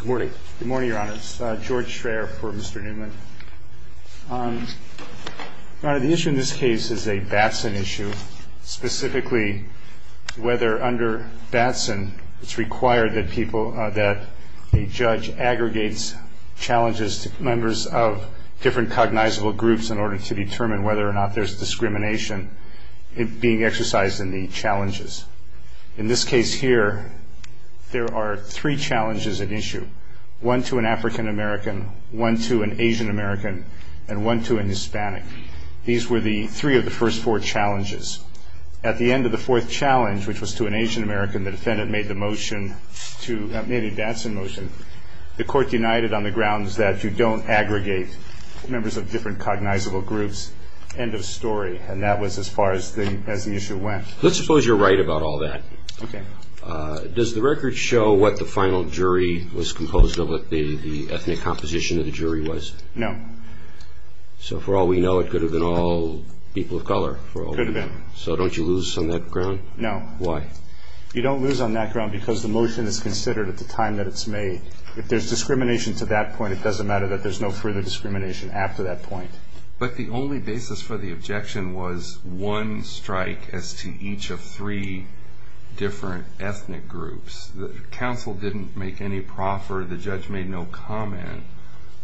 Good morning, Your Honor. It's George Schraer for Mr. Neuman. Your Honor, the issue in this case is a Batson issue. Specifically, whether under Batson it's required that a judge aggregates challenges to members of different cognizable groups in order to determine whether or not there's discrimination being exercised in the challenges. In this case here, there are three challenges at issue. One to an African-American, one to an Asian-American, and one to a Hispanic. These were the three of the first four challenges. At the end of the fourth challenge, which was to an Asian-American, the defendant made a Batson motion. The court denied it on the grounds that you don't aggregate members of different cognizable groups. End of story. And that was as far as the issue went. Let's suppose you're right about all that. Okay. Does the record show what the final jury was composed of, what the ethnic composition of the jury was? No. So for all we know, it could have been all people of color. Could have been. So don't you lose on that ground? No. Why? You don't lose on that ground because the motion is considered at the time that it's made. If there's discrimination to that point, it doesn't matter that there's no further discrimination after that point. But the only basis for the objection was one strike as to each of three different ethnic groups. The counsel didn't make any proffer. The judge made no comment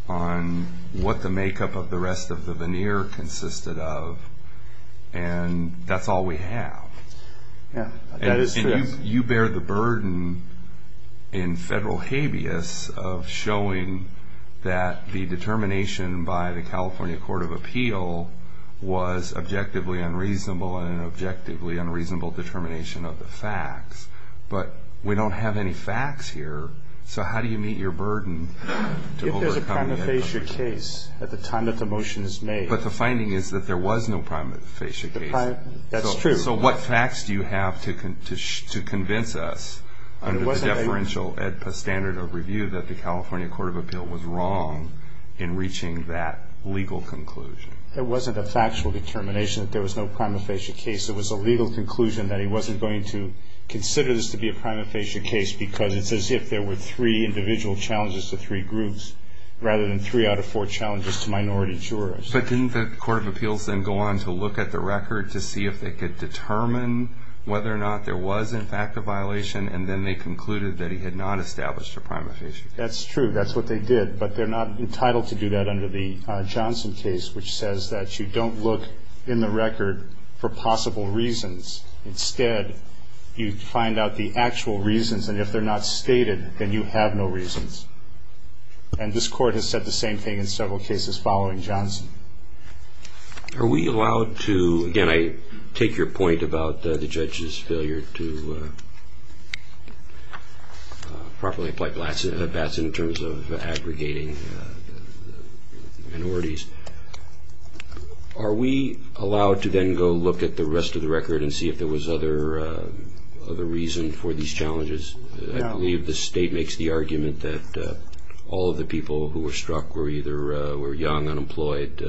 on what the makeup of the rest of the veneer consisted of. And that's all we have. Yeah. was objectively unreasonable and an objectively unreasonable determination of the facts. But we don't have any facts here, so how do you meet your burden to overcome the EdPA? If there's a prima facie case at the time that the motion is made. But the finding is that there was no prima facie case. That's true. So what facts do you have to convince us under the deferential EdPA standard of review that the California Court of Appeal was wrong in reaching that legal conclusion? It wasn't a factual determination that there was no prima facie case. It was a legal conclusion that he wasn't going to consider this to be a prima facie case because it's as if there were three individual challenges to three groups rather than three out of four challenges to minority jurors. But didn't the Court of Appeals then go on to look at the record to see if they could determine whether or not there was in fact a violation, and then they concluded that he had not established a prima facie case? That's true. That's what they did, but they're not entitled to do that under the Johnson case, which says that you don't look in the record for possible reasons. Instead, you find out the actual reasons, and if they're not stated, then you have no reasons. And this Court has said the same thing in several cases following Johnson. Are we allowed to, again, I take your point about the judge's failure to properly apply Batson in terms of aggregating minorities. Are we allowed to then go look at the rest of the record and see if there was other reason for these challenges? I believe the state makes the argument that all of the people who were struck were either young, unemployed,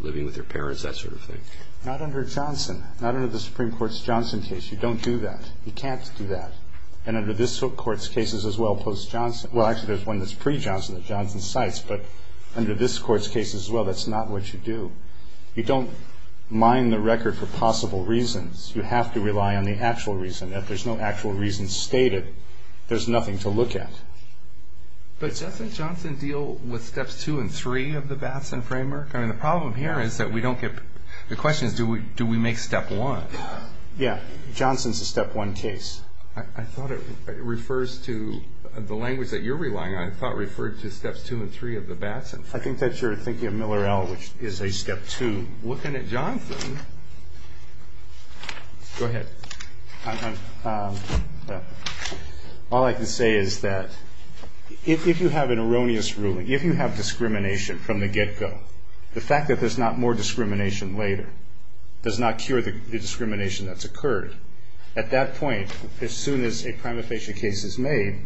living with their parents, that sort of thing. Not under Johnson. Not under the Supreme Court's Johnson case. You don't do that. You can't do that. And under this Court's cases as well post-Johnson, well, actually there's one that's pre-Johnson that Johnson cites, but under this Court's case as well, that's not what you do. You don't mine the record for possible reasons. You have to rely on the actual reason. If there's no actual reason stated, there's nothing to look at. But doesn't Johnson deal with Steps 2 and 3 of the Batson framework? I mean, the problem here is that we don't get the questions, do we make Step 1? Yeah. Johnson's a Step 1 case. I thought it refers to the language that you're relying on, I thought it referred to Steps 2 and 3 of the Batson framework. I think that you're thinking of Miller-El, which is a Step 2. Looking at Johnson. Go ahead. All I can say is that if you have an erroneous ruling, if you have discrimination from the get-go, the fact that there's not more discrimination later does not cure the discrimination that's occurred. At that point, as soon as a prima facie case is made,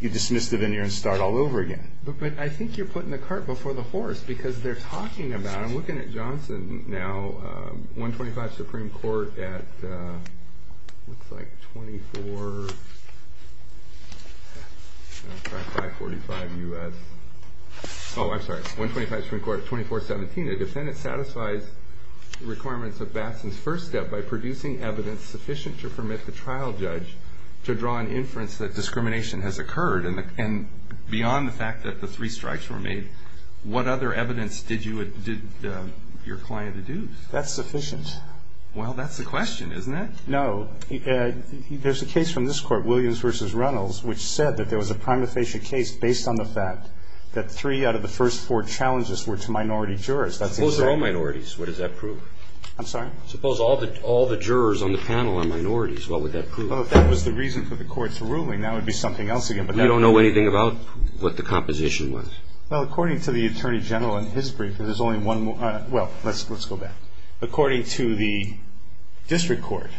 you dismiss the veneer and start all over again. But I think you're putting the cart before the horse, because they're talking about it. Looking at Johnson now, 125 Supreme Court at 2417, the defendant satisfies the requirements of Batson's first step by producing evidence sufficient to permit the trial judge to draw an inference that discrimination has occurred. And beyond the fact that the three strikes were made, what other evidence did your client deduce? That's sufficient. Well, that's the question, isn't it? No. There's a case from this Court, Williams v. Reynolds, which said that there was a prima facie case based on the fact that three out of the first four challenges were to minority jurors. Suppose they're all minorities. What does that prove? I'm sorry? Suppose all the jurors on the panel are minorities. What would that prove? Well, if that was the reason for the Court's ruling, that would be something else again. We don't know anything about what the composition was. Well, according to the Attorney General in his brief, there's only one more. Well, let's go back. According to the District Court,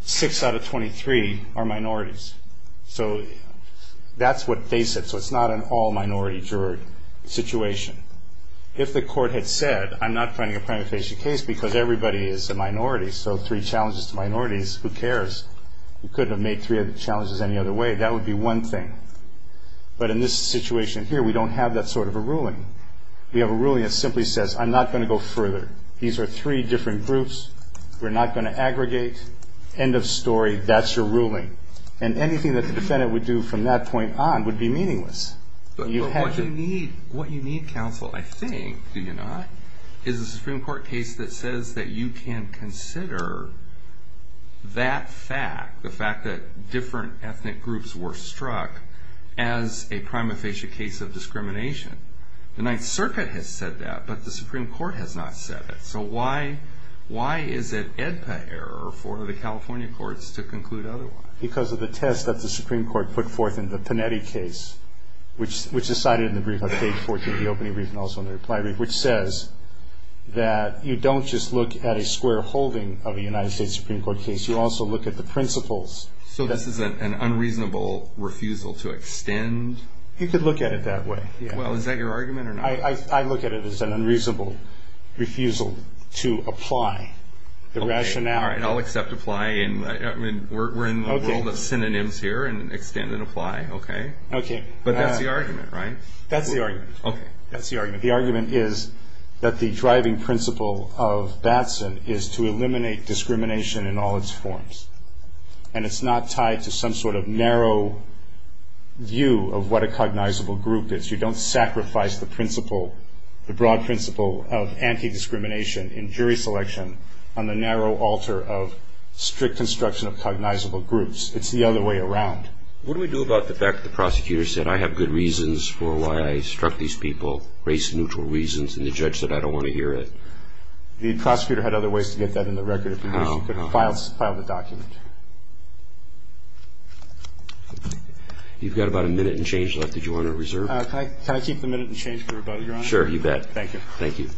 six out of 23 are minorities. So that's what they said. So it's not an all-minority juror situation. If the Court had said, I'm not finding a prima facie case because everybody is a minority, so three challenges to minorities, who cares? We couldn't have made three challenges any other way. That would be one thing. But in this situation here, we don't have that sort of a ruling. We have a ruling that simply says, I'm not going to go further. These are three different groups. We're not going to aggregate. End of story. That's your ruling. And anything that the defendant would do from that point on would be meaningless. What you need, counsel, I think, do you not, is a Supreme Court case that says that you can consider that fact, the fact that different ethnic groups were struck as a prima facie case of discrimination. The Ninth Circuit has said that, but the Supreme Court has not said it. So why is it AEDPA error for the California courts to conclude otherwise? Because of the test that the Supreme Court put forth in the Panetti case, which is cited in the brief on page 14, the opening brief and also in the reply brief, which says that you don't just look at a square holding of a United States Supreme Court case. You also look at the principles. So this is an unreasonable refusal to extend? You could look at it that way. Well, is that your argument or not? I look at it as an unreasonable refusal to apply the rationale. All right. I'll accept apply. We're in the world of synonyms here and extend and apply. Okay? Okay. But that's the argument, right? That's the argument. Okay. That's the argument. The argument is that the driving principle of Batson is to eliminate discrimination in all its forms. And it's not tied to some sort of narrow view of what a cognizable group is. You don't sacrifice the principle, the broad principle of anti-discrimination in jury selection on the narrow altar of strict construction of cognizable groups. It's the other way around. What do we do about the fact that the prosecutor said, I have good reasons for why I struck these people, race-neutral reasons, and the judge said I don't want to hear it? The prosecutor had other ways to get that in the record. Perhaps you could file the document. You've got about a minute and change left. Did you want to reserve? Can I keep the minute and change for rebuttal, Your Honor? Sure. You bet. Thank you. Thank you.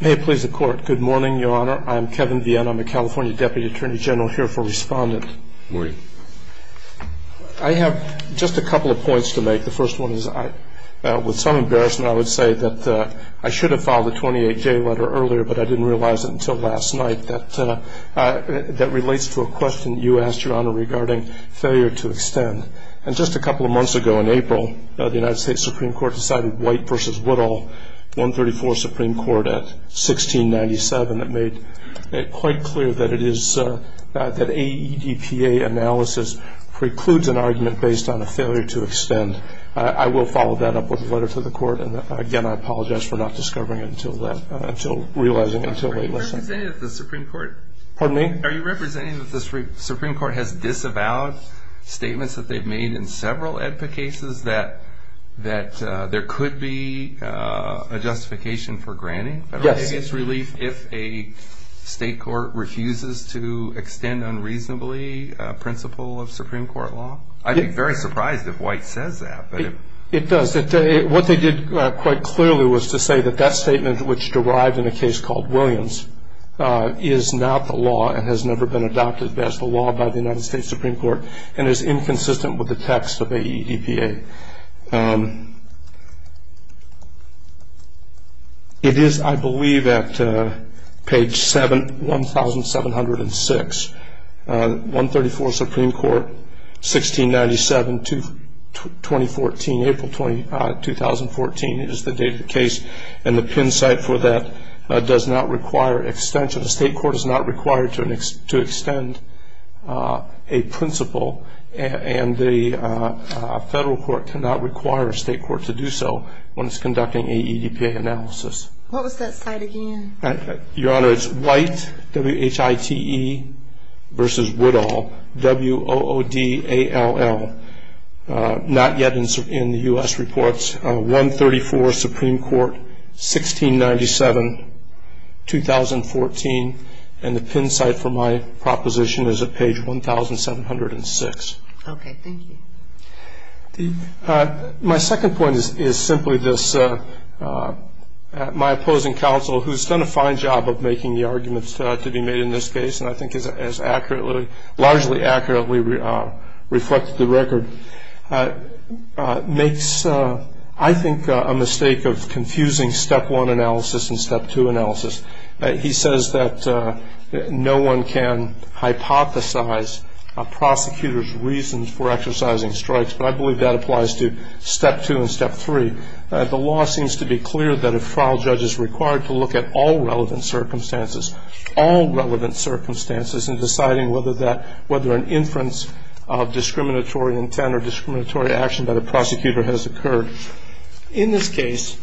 May it please the Court. Good morning, Your Honor. I'm Kevin Vienne. I'm a California Deputy Attorney General here for Respondent. Good morning. I have just a couple of points to make. The first one is, with some embarrassment, I would say that I should have filed a 28-J letter earlier, but I didn't realize it until last night, that relates to a question you asked, Your Honor, regarding failure to extend. And just a couple of months ago, in April, the United States Supreme Court decided White v. Woodall, 134 Supreme Court, at 1697, that made it quite clear that it is that AEDPA analysis precludes an argument based on a failure to extend. I will follow that up with a letter to the Court, and, again, I apologize for not discovering it until realizing it until late last night. Are you representing the Supreme Court? Pardon me? It's about statements that they've made in several AEDPA cases that there could be a justification for granting? Yes. Relief if a state court refuses to extend unreasonably a principle of Supreme Court law? I'd be very surprised if White says that. It does. What they did quite clearly was to say that that statement, which derived in a case called Williams, is not the law and has never been adopted as the law by the United States Supreme Court and is inconsistent with the text of AEDPA. It is, I believe, at page 1706. 134 Supreme Court, 1697, 2014, April 2014 is the date of the case, and the pin site for that does not require extension. A state court is not required to extend a principle, and the federal court cannot require a state court to do so when it's conducting AEDPA analysis. What was that site again? Your Honor, it's White, W-H-I-T-E versus Woodall, W-O-O-D-A-L-L, not yet in the U.S. reports. 134 Supreme Court, 1697, 2014, and the pin site for my proposition is at page 1706. Okay. Thank you. My second point is simply this. My opposing counsel, who's done a fine job of making the arguments to be made in this case, and I think has largely accurately reflected the record, makes, I think, a mistake of confusing Step 1 analysis and Step 2 analysis. He says that no one can hypothesize a prosecutor's reasons for exercising strikes, but I believe that applies to Step 2 and Step 3. The law seems to be clear that if a trial judge is required to look at all relevant circumstances, all relevant circumstances in deciding whether an inference of discriminatory intent or discriminatory action by the prosecutor has occurred. In this case,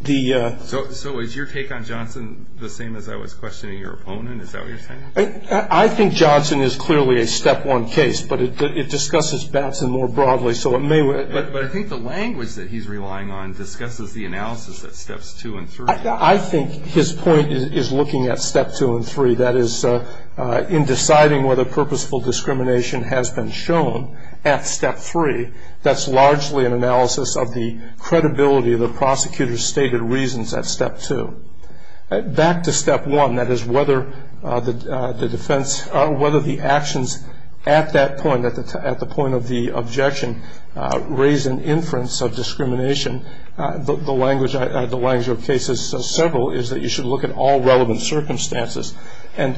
the ‑‑ So is your take on Johnson the same as I was questioning your opponent? Is that what you're saying? I think Johnson is clearly a Step 1 case, but it discusses Batson more broadly, so it may ‑‑ But I think the language that he's relying on discusses the analysis of Steps 2 and 3. I think his point is looking at Step 2 and 3. That is, in deciding whether purposeful discrimination has been shown at Step 3, that's largely an analysis of the credibility of the prosecutor's stated reasons at Step 2. Back to Step 1, that is, whether the defense ‑‑ whether the actions at that point, at the point of the objection, raise an inference of discrimination. The language of the case says several, is that you should look at all relevant circumstances. And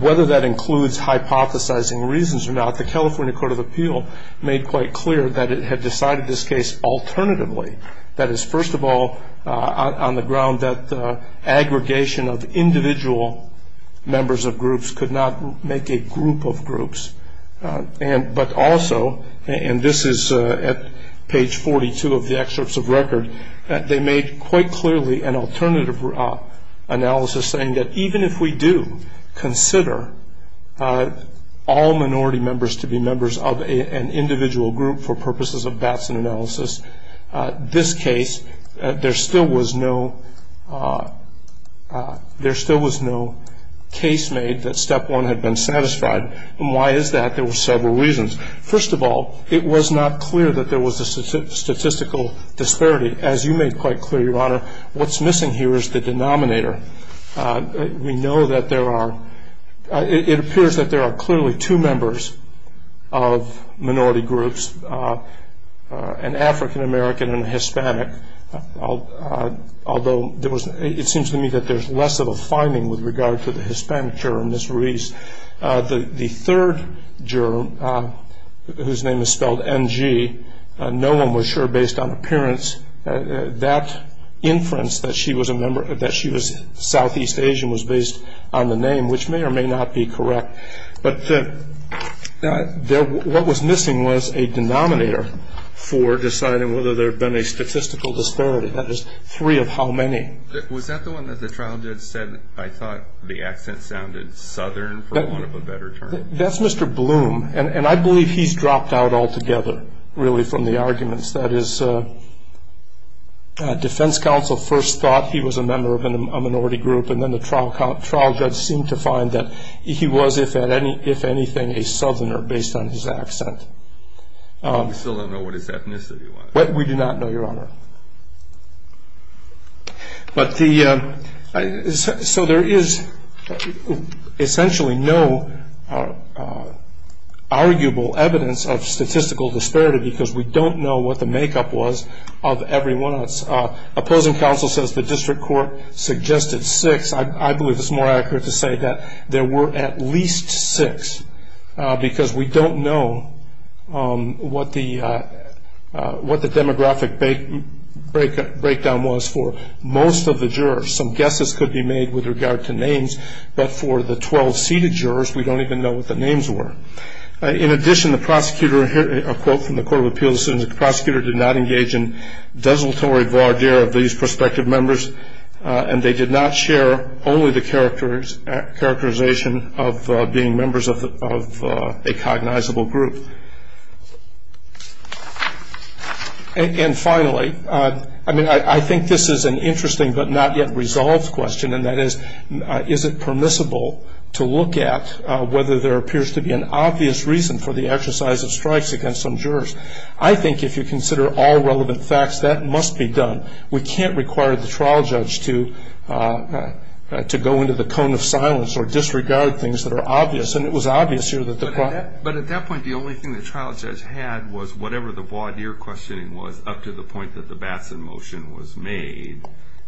whether that includes hypothesizing reasons or not, the California Court of Appeal made quite clear that it had decided this case alternatively. That is, first of all, on the ground that aggregation of individual members of groups could not make a group of groups. But also, and this is at page 42 of the excerpts of record, they made quite clearly an alternative analysis saying that even if we do consider all minority members to be members of an individual group for purposes of Batson analysis, this case, there still was no case made that Step 1 had been satisfied. And why is that? There were several reasons. First of all, it was not clear that there was a statistical disparity. As you made quite clear, Your Honor, what's missing here is the denominator. We know that there are ‑‑ it appears that there are clearly two members of minority groups, an African American and a Hispanic, although it seems to me that there's less of a finding with regard to the Hispanics here in this release. The third juror, whose name is spelled NG, no one was sure based on appearance, that inference that she was Southeast Asian was based on the name, which may or may not be correct. But what was missing was a denominator for deciding whether there had been a statistical disparity, that is, three of how many. Was that the one that the trial judge said I thought the accent sounded Southern for want of a better term? That's Mr. Bloom, and I believe he's dropped out altogether, really, from the arguments. That is, defense counsel first thought he was a member of a minority group, and then the trial judge seemed to find that he was, if anything, a Southerner based on his accent. We still don't know what his ethnicity was. We do not know, Your Honor. So there is essentially no arguable evidence of statistical disparity because we don't know what the makeup was of everyone. Opposing counsel says the district court suggested six. I believe it's more accurate to say that there were at least six because we don't know what the demographic breakdown was for most of the jurors. Some guesses could be made with regard to names, but for the 12 seated jurors we don't even know what the names were. In addition, the prosecutor, a quote from the Court of Appeals, the prosecutor did not engage in desultory voir dire of these prospective members, and they did not share only the characterization of being members of a cognizable group. And finally, I mean, I think this is an interesting but not yet resolved question, and that is, is it permissible to look at whether there appears to be an obvious reason for the exercise of strikes against some jurors? I think if you consider all relevant facts, that must be done. We can't require the trial judge to go into the cone of silence or disregard things that are obvious, and it was obvious here that the- But at that point the only thing the trial judge had was whatever the voir dire questioning was up to the point that the Batson motion was made,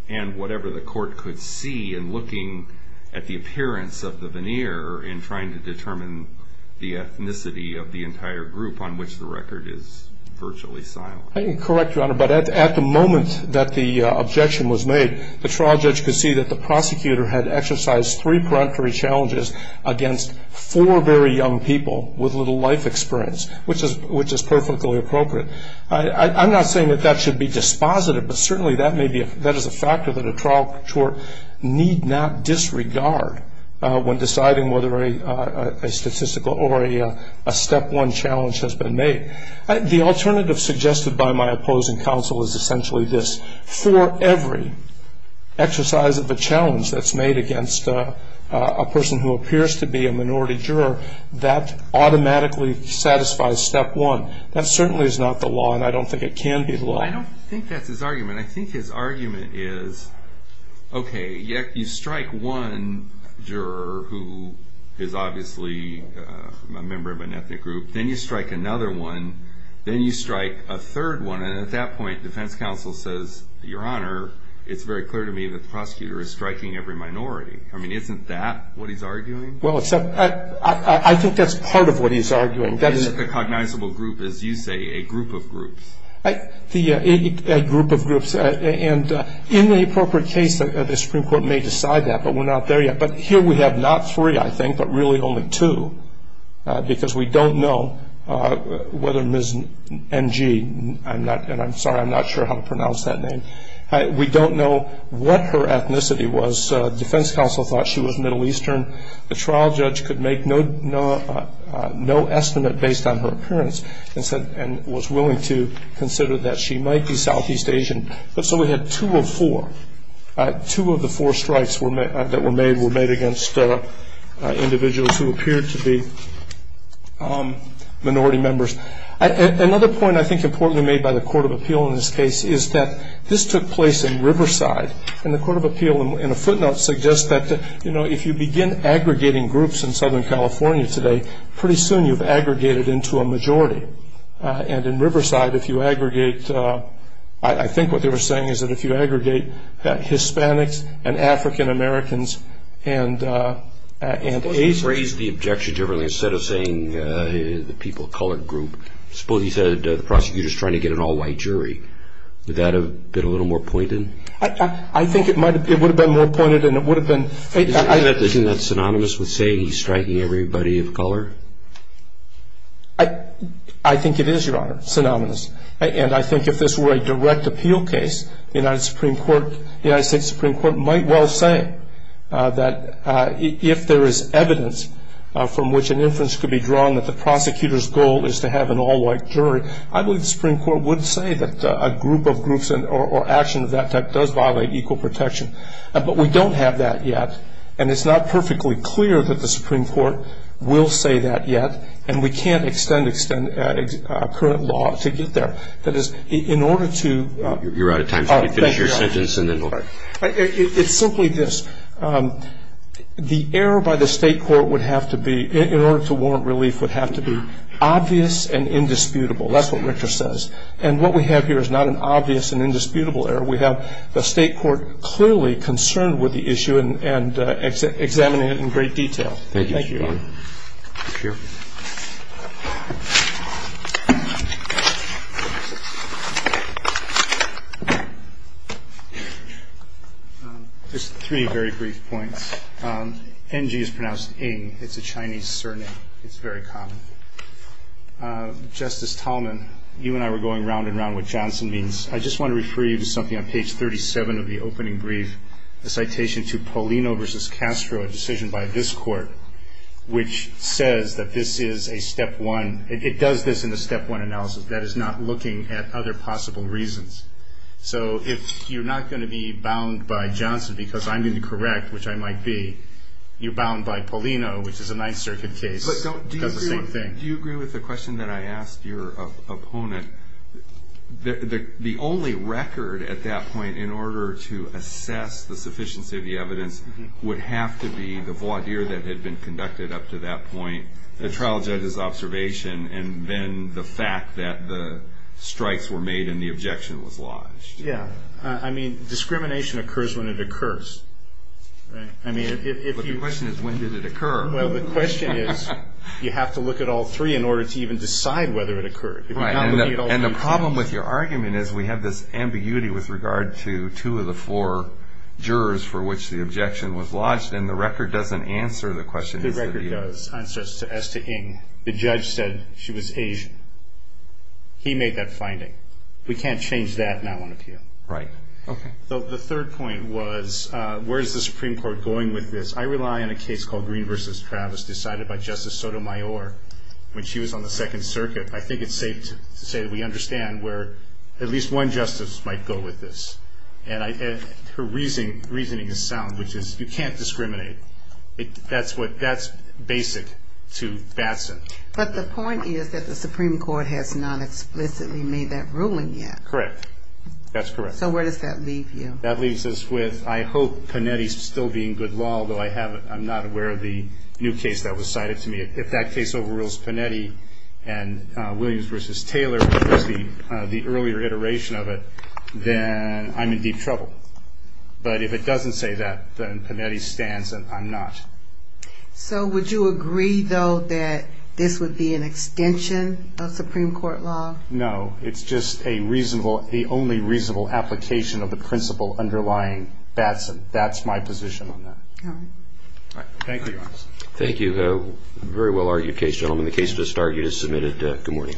and whatever the court could see in looking at the appearance of the veneer in trying to determine the ethnicity of the entire group on which the record is virtually silent. Correct, Your Honor, but at the moment that the objection was made, the trial judge could see that the prosecutor had exercised three peremptory challenges against four very young people with little life experience, which is perfectly appropriate. I'm not saying that that should be dispositive, but certainly that is a factor that a trial court need not disregard when deciding whether a statistical or a step one challenge has been made. The alternative suggested by my opposing counsel is essentially this. For every exercise of a challenge that's made against a person who appears to be a minority juror, that automatically satisfies step one. That certainly is not the law, and I don't think it can be the law. I don't think that's his argument. I think his argument is, okay, you strike one juror who is obviously a member of an ethnic group, then you strike another one, then you strike a third one, and at that point defense counsel says, Your Honor, it's very clear to me that the prosecutor is striking every minority. I mean, isn't that what he's arguing? Well, I think that's part of what he's arguing. Is it a cognizable group, as you say, a group of groups? A group of groups, and in the appropriate case, the Supreme Court may decide that, but we're not there yet. But here we have not three, I think, but really only two, because we don't know whether Ms. NG, and I'm sorry I'm not sure how to pronounce that name, we don't know what her ethnicity was. Defense counsel thought she was Middle Eastern. The trial judge could make no estimate based on her appearance and was willing to consider that she might be Southeast Asian. But so we had two of four. Two of the four strikes that were made were made against individuals who appeared to be minority members. Another point I think importantly made by the Court of Appeal in this case is that this took place in Riverside, and the Court of Appeal in a footnote suggests that, you know, if you begin aggregating groups in Southern California today, pretty soon you've aggregated into a majority. And in Riverside, if you aggregate, I think what they were saying is that if you aggregate Hispanics and African-Americans and Asians. Suppose you phrased the objection differently. Instead of saying the people of color group, suppose you said the prosecutor is trying to get an all-white jury. Would that have been a little more pointed? I think it would have been more pointed and it would have been. Isn't that synonymous with saying he's striking everybody of color? I think it is, Your Honor, synonymous. And I think if this were a direct appeal case, the United States Supreme Court might well say that if there is evidence from which an inference could be drawn that the prosecutor's goal is to have an all-white jury, I believe the Supreme Court would say that a group of groups or action of that type does violate equal protection. But we don't have that yet and it's not perfectly clear that the Supreme Court will say that yet and we can't extend current law to get there. That is, in order to. You're out of time. Let me finish your sentence and then we'll. It's simply this. The error by the state court would have to be, in order to warrant relief, would have to be obvious and indisputable. That's what Richter says. And what we have here is not an obvious and indisputable error. We have the state court clearly concerned with the issue and examining it in great detail. Thank you, Your Honor. Thank you. Just three very brief points. NG is pronounced ing. It's a Chinese surname. It's very common. Justice Tallman, you and I were going round and round what Johnson means. I just want to refer you to something on page 37 of the opening brief, a citation to Paulino v. Castro, a decision by this court, which says that this is a step one. It does this in a step one analysis. That is not looking at other possible reasons. So if you're not going to be bound by Johnson because I'm going to correct, which I might be, you're bound by Paulino, which is a Ninth Circuit case. That's the same thing. Do you agree with the question that I asked your opponent? The only record at that point in order to assess the sufficiency of the evidence would have to be the voir dire that had been conducted up to that point, the trial judge's observation, and then the fact that the strikes were made and the objection was lodged. Yeah. I mean, discrimination occurs when it occurs. Right? But the question is, when did it occur? Well, the question is, you have to look at all three in order to even decide whether it occurred. Right. And the problem with your argument is we have this ambiguity with regard to two of the four jurors for which the objection was lodged, and the record doesn't answer the question. The record does, as to Ng. The judge said she was Asian. He made that finding. We can't change that now on appeal. Right. Okay. So the third point was, where is the Supreme Court going with this? I rely on a case called Green v. Travis decided by Justice Sotomayor when she was on the Second Circuit. I think it's safe to say that we understand where at least one justice might go with this. And her reasoning is sound, which is you can't discriminate. That's basic to Batson. But the point is that the Supreme Court has not explicitly made that ruling yet. Correct. That's correct. So where does that leave you? That leaves us with I hope Panetti's still being good law, although I'm not aware of the new case that was cited to me. If that case overrules Panetti and Williams v. Taylor, which was the earlier iteration of it, then I'm in deep trouble. But if it doesn't say that, then Panetti stands and I'm not. So would you agree, though, that this would be an extension of Supreme Court law? No. It's just the only reasonable application of the principle underlying Batson. That's my position on that. All right. Thank you, Your Honor. Thank you. A very well-argued case, gentlemen. The case just argued is submitted. Good morning.